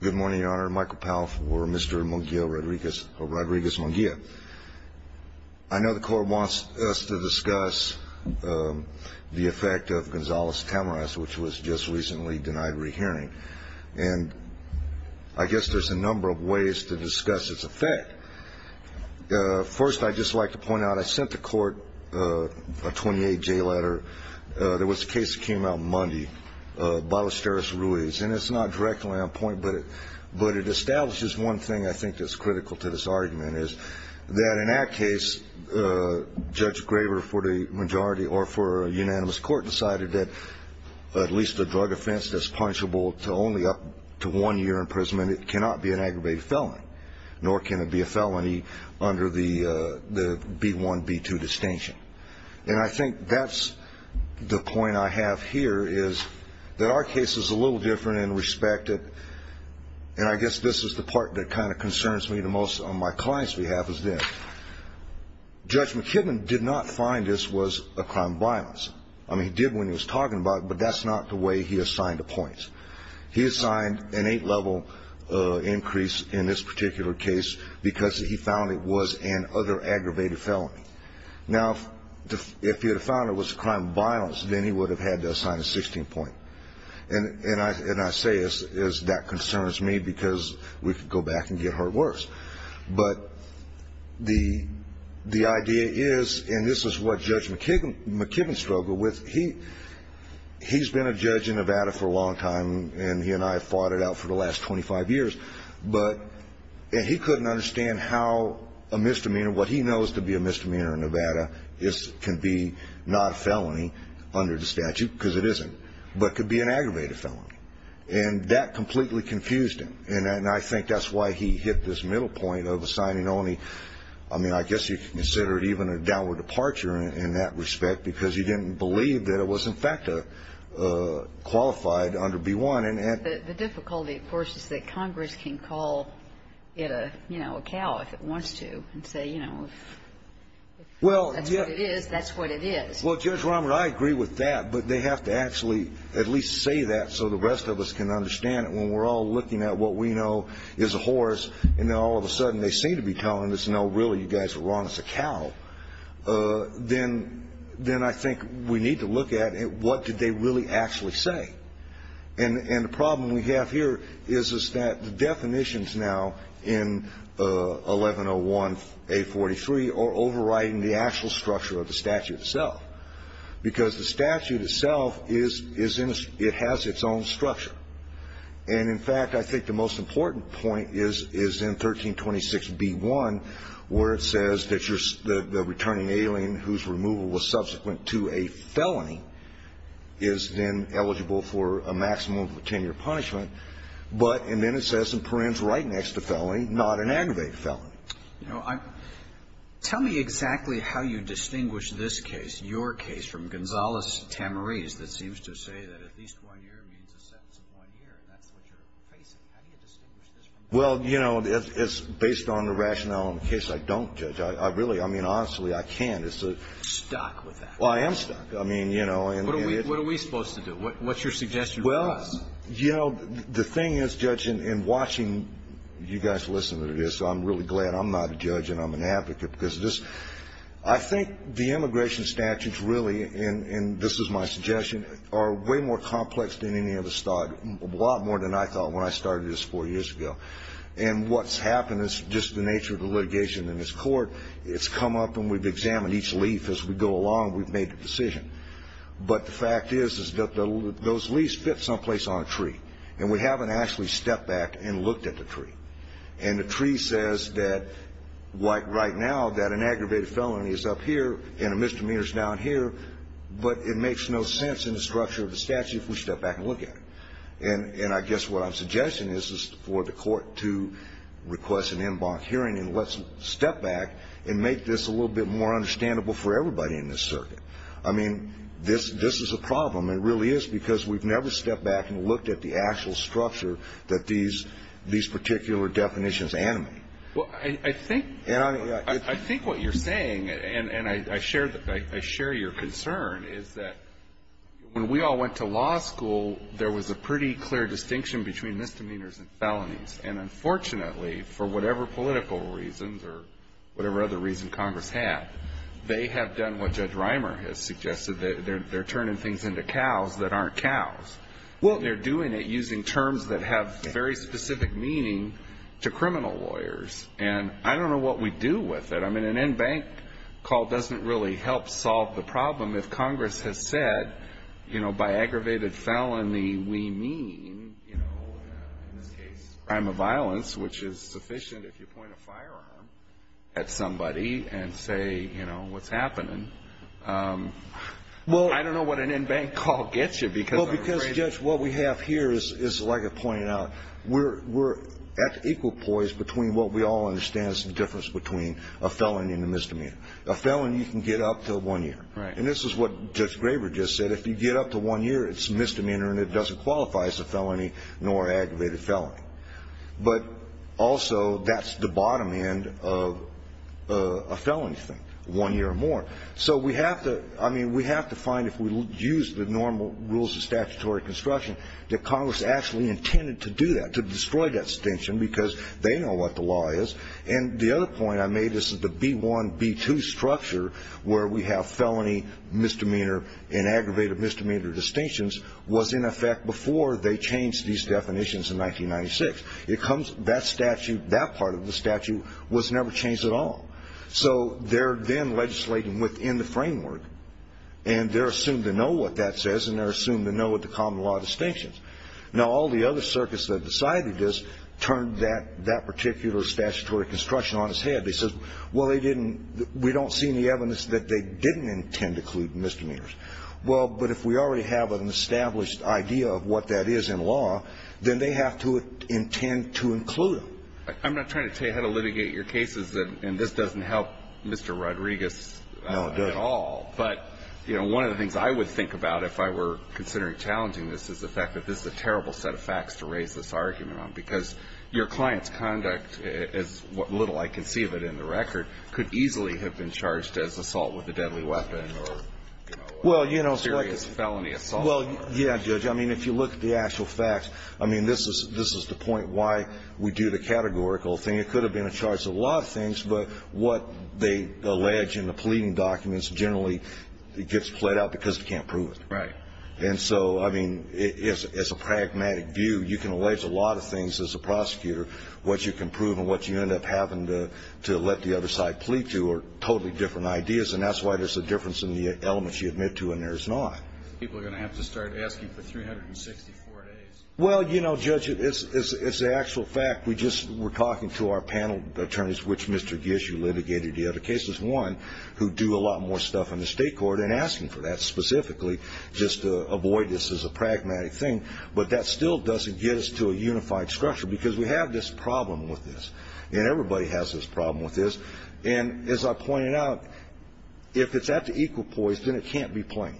Good morning, Your Honor. Michael Powell for Mr. Munguia-Rodriguez-Munguia. I know the court wants us to discuss the effect of Gonzales-Tamaras, which was just recently denied re-hearing. And I guess there's a number of ways to discuss its effect. First, I'd just like to point out, I sent the court a 28-J letter. There was a case that came out Monday, Ballesteros-Ruiz. And it's not directly on point, but it establishes one thing I think that's critical to this argument, is that in that case, Judge Graver, for the majority or for a unanimous court, decided that at least a drug offense that's punishable to only up to one year imprisonment cannot be an aggravated felony, nor can it be a felony under the B-1, B-2 distinction. And I think that's the point I have here, is that our case is a little different in respect to – and I guess this is the part that kind of concerns me the most on my client's behalf – is that Judge McKibben did not find this was a crime of violence. I mean, he did when he was talking about it, but that's not the way he assigned the points. He assigned an eight-level increase in this particular case because he found it was an other aggravated felony. Now, if he had found it was a crime of violence, then he would have had to assign a 16-point. And I say that concerns me because we could go back and get hurt worse. But the idea is – and this is what Judge McKibben struggled with. He's been a judge in Nevada for a long time, and he and I have fought it out for the last 25 years. But he couldn't understand how a misdemeanor, what he knows to be a misdemeanor in Nevada, can be not a felony under the statute, because it isn't, but could be an aggravated felony. And that completely confused him. And I think that's why he hit this middle point of assigning only – I mean, I guess you could consider it even a downward departure in that respect because he didn't believe that it was, in fact, qualified under B-1. And the difficulty, of course, is that Congress can call it a, you know, a cow if it wants to and say, you know, if that's what it is, that's what it is. Well, Judge Romer, I agree with that. But they have to actually at least say that so the rest of us can understand it. When we're all looking at what we know is a horse and then all of a sudden they seem to be telling us, no, really, you guys are wrong, it's a cow, then I think we need to look at what did they really actually say. And the problem we have here is that the definitions now in 1101a43 are overriding the actual structure of the statute itself, because the statute itself is in a – it has its own structure. And, in fact, I think the most important point is in 1326b-1, where it says that the returning alien whose removal was subsequent to a felony is then eligible for a maximum of 10-year punishment. But – and then it says in Perren's right next to felony, not an aggravated felony. You know, tell me exactly how you distinguish this case, your case, from Gonzales-Tamariz, that seems to say that at least one year means a sentence of one year, and that's what you're facing. How do you distinguish this from that? Well, you know, it's based on the rationale in the case. I don't, Judge. I really – I mean, honestly, I can't. You're stuck with that. Well, I am stuck. I mean, you know. What are we supposed to do? What's your suggestion for us? Well, you know, the thing is, Judge, in watching you guys listen to this, I'm really glad I'm not a judge and I'm an advocate, because this – I think the immigration statutes really, and this is my suggestion, are way more complex than any of us thought, a lot more than I thought when I started this four years ago. And what's happened is just the nature of the litigation in this court. It's come up and we've examined each leaf. As we go along, we've made a decision. But the fact is that those leaves fit someplace on a tree, and we haven't actually stepped back and looked at the tree. And the tree says that, like right now, that an aggravated felony is up here and a misdemeanor is down here, but it makes no sense in the structure of the statute if we step back and look at it. And I guess what I'm suggesting is for the court to request an en banc hearing and let's step back and make this a little bit more understandable for everybody in this circuit. I mean, this is a problem. It really is, because we've never stepped back and looked at the actual structure that these particular definitions animate. Well, I think what you're saying, and I share your concern, is that when we all went to law school, there was a pretty clear distinction between misdemeanors and felonies. And unfortunately, for whatever political reasons or whatever other reason Congress had, they have done what Judge Reimer has suggested. They're turning things into cows that aren't cows. Well, they're doing it using terms that have very specific meaning to criminal lawyers. And I don't know what we do with it. I mean, an en banc call doesn't really help solve the problem if Congress has said, you know, by aggravated felony we mean, in this case, crime of violence, which is sufficient if you point a firearm at somebody and say, you know, what's happening. I don't know what an en banc call gets you. Well, because, Judge, what we have here is, like I pointed out, we're at equal poise between what we all understand is the difference between a felony and a misdemeanor. A felony you can get up to one year. And this is what Judge Graber just said. If you get up to one year, it's a misdemeanor and it doesn't qualify as a felony nor an aggravated felony. But also that's the bottom end of a felony thing, one year or more. So we have to, I mean, we have to find if we use the normal rules of statutory construction that Congress actually intended to do that, to destroy that distinction, because they know what the law is. And the other point I made is that the B-1, B-2 structure, where we have felony, misdemeanor, and aggravated misdemeanor distinctions, was in effect before they changed these definitions in 1996. It comes, that statute, that part of the statute was never changed at all. So they're then legislating within the framework, and they're assumed to know what that says, and they're assumed to know what the common law distinctions. Now, all the other circuits that decided this turned that particular statutory construction on its head. They said, well, they didn't, we don't see any evidence that they didn't intend to include misdemeanors. Well, but if we already have an established idea of what that is in law, then they have to intend to include them. I'm not trying to tell you how to litigate your cases, and this doesn't help Mr. Rodriguez at all. No, it doesn't. But, you know, one of the things I would think about if I were considering challenging this is the fact that this is a terrible set of facts to raise this argument on, because your client's conduct, as little I can see of it in the record, could easily have been charged as assault with a deadly weapon or, you know, serious felony assault. Well, yeah, Judge. I mean, if you look at the actual facts, I mean, this is the point why we do the categorical thing. It could have been a charge of a lot of things, but what they allege in the pleading documents generally gets played out because they can't prove it. Right. And so, I mean, it's a pragmatic view. You can allege a lot of things as a prosecutor. What you can prove and what you end up having to let the other side plead to are totally different ideas, and that's why there's a difference in the elements you admit to and there's not. People are going to have to start asking for 364 days. Well, you know, Judge, it's the actual fact. We just were talking to our panel attorneys, which Mr. Gishu litigated the other cases, one who do a lot more stuff in the state court and asking for that specifically just to avoid this as a pragmatic thing, but that still doesn't get us to a unified structure because we have this problem with this, and everybody has this problem with this, and as I pointed out, if it's at the equal poise, then it can't be plain.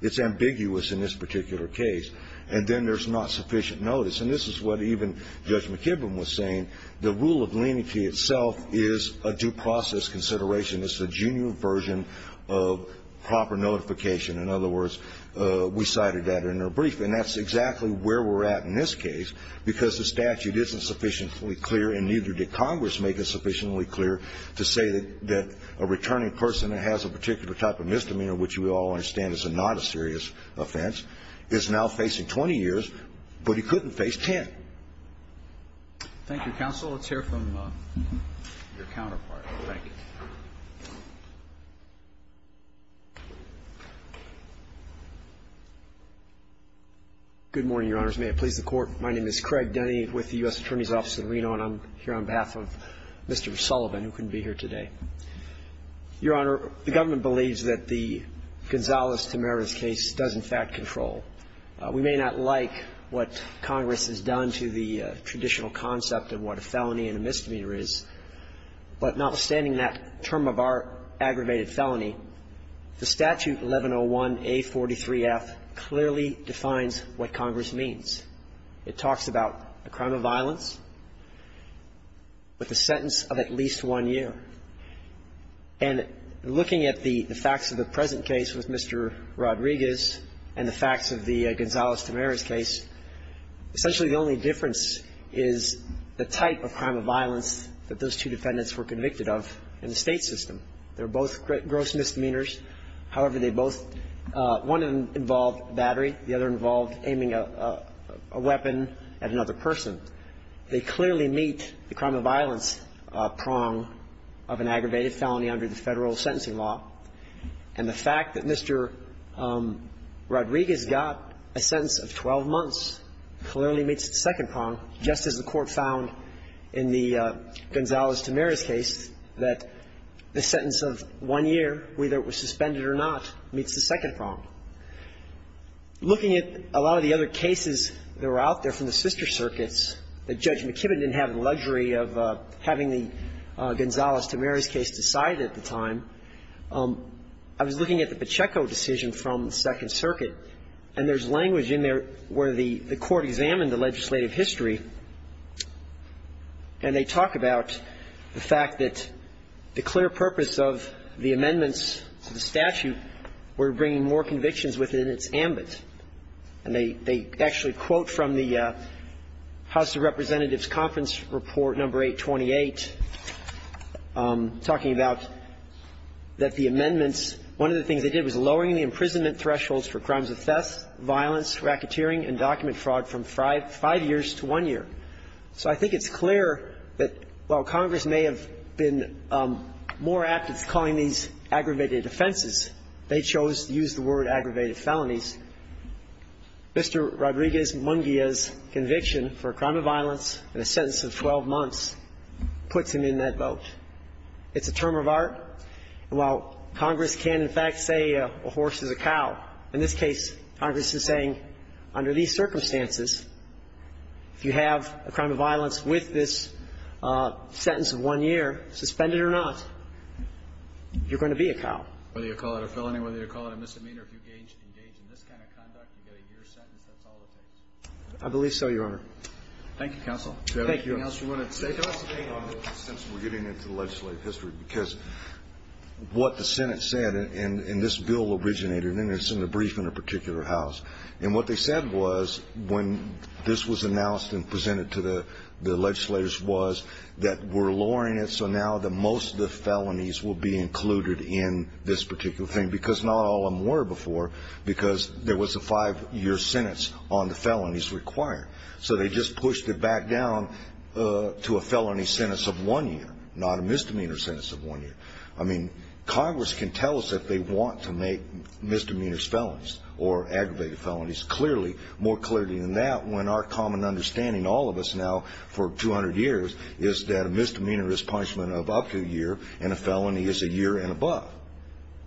It's ambiguous in this particular case, and then there's not sufficient notice, and this is what even Judge McKibben was saying. The rule of leniency itself is a due process consideration. It's a genuine version of proper notification. In other words, we cited that in our brief, and that's exactly where we're at in this case because the statute isn't sufficiently clear and neither did Congress make it sufficiently clear to say that a returning person that has a particular type of misdemeanor, which we all understand is not a serious offense, is now facing 20 years, but he couldn't face 10. Thank you, counsel. Let's hear from your counterpart. Thank you. Good morning, Your Honors. May it please the Court. My name is Craig Denny with the U.S. Attorney's Office in Reno, and I'm here on behalf of Mr. Sullivan, who couldn't be here today. Your Honor, the government believes that the Gonzalez-Tamara's case does in fact control. We may not like what Congress has done to the traditional concept of what a felony and a misdemeanor is, but notwithstanding that term of our aggravated felony, the statute 1101A43F clearly defines what Congress means. It talks about a crime of violence with a sentence of at least one year. And looking at the facts of the present case with Mr. Rodriguez and the facts of the Gonzalez-Tamara's case, essentially the only difference is the type of crime of violence that those two defendants were convicted of in the state system. They were both gross misdemeanors. However, they both one involved battery, the other involved aiming a weapon at another person. They clearly meet the crime of violence prong of an aggravated felony under the federal sentencing law. And the fact that Mr. Rodriguez got a sentence of 12 months clearly meets the second prong, just as the Court found in the Gonzalez-Tamara's case that the sentence of one year, whether it was suspended or not, meets the second prong. Looking at a lot of the other cases that were out there from the sister circuits, that Judge McKibben didn't have the luxury of having the Gonzalez-Tamara's case decided at the time, I was looking at the Pacheco decision from the Second Circuit, and there's language in there where the Court examined the legislative history, and they talk about the fact that the clear purpose of the amendments to the statute were bringing more convictions within its ambit. And they actually quote from the House of Representatives Conference Report No. 828 talking about that the amendments, one of the things they did was lowering the imprisonment thresholds for crimes of theft, violence, racketeering and document fraud from five years to one year. So I think it's clear that while Congress may have been more active calling these aggravated offenses, they chose to use the word aggravated felonies. Mr. Rodriguez-Munguia's conviction for a crime of violence and a sentence of 12 months puts him in that vote. It's a term of art. And while Congress can, in fact, say a horse is a cow, in this case, Congress is saying under these circumstances, if you have a crime of violence with this sentence of one year, suspended or not, you're going to be a cow. Whether you call it a felony, whether you call it a misdemeanor, if you engage in this kind of conduct, you get a year's sentence. That's all it takes. I believe so, Your Honor. Thank you, Counsel. Thank you. Anything else you want to say to us? Since we're getting into the legislative history, because what the Senate said, and this bill originated, and it's in the brief in a particular house. And what they said was when this was announced and presented to the legislators was that we're lowering it so now that most of the felonies will be included in this particular thing. Because not all of them were before, because there was a five-year sentence on the felonies required. So they just pushed it back down to a felony sentence of one year, not a misdemeanor sentence of one year. I mean, Congress can tell us if they want to make misdemeanors felonies or aggravated felonies. Clearly, more clearly than that, when our common understanding, all of us now for 200 years, is that a misdemeanor is punishment of up to a year and a felony is a year and above.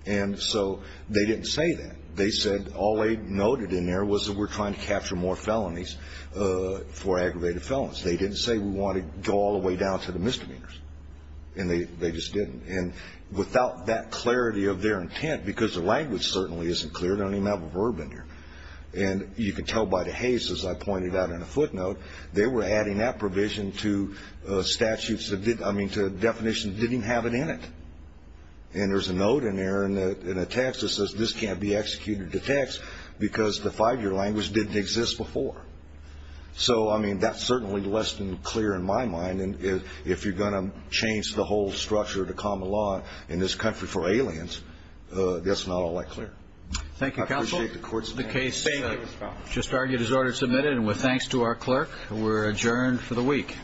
And so they didn't say that. They said all they noted in there was that we're trying to capture more felonies for aggravated felons. They didn't say we want to go all the way down to the misdemeanors. And they just didn't. And without that clarity of their intent, because the language certainly isn't clear, they don't even have a verb in there. And you can tell by the haze, as I pointed out in a footnote, they were adding that provision to statutes that didn't, I mean, to definitions that didn't have it in it. And there's a note in there and a text that says this can't be executed to text because the five-year language didn't exist before. So, I mean, that's certainly less than clear in my mind. And if you're going to change the whole structure of the common law in this country for aliens, that's not all that clear. Thank you, counsel. I appreciate the court's time. The case just argued is order submitted. And with thanks to our clerk, we're adjourned for the week.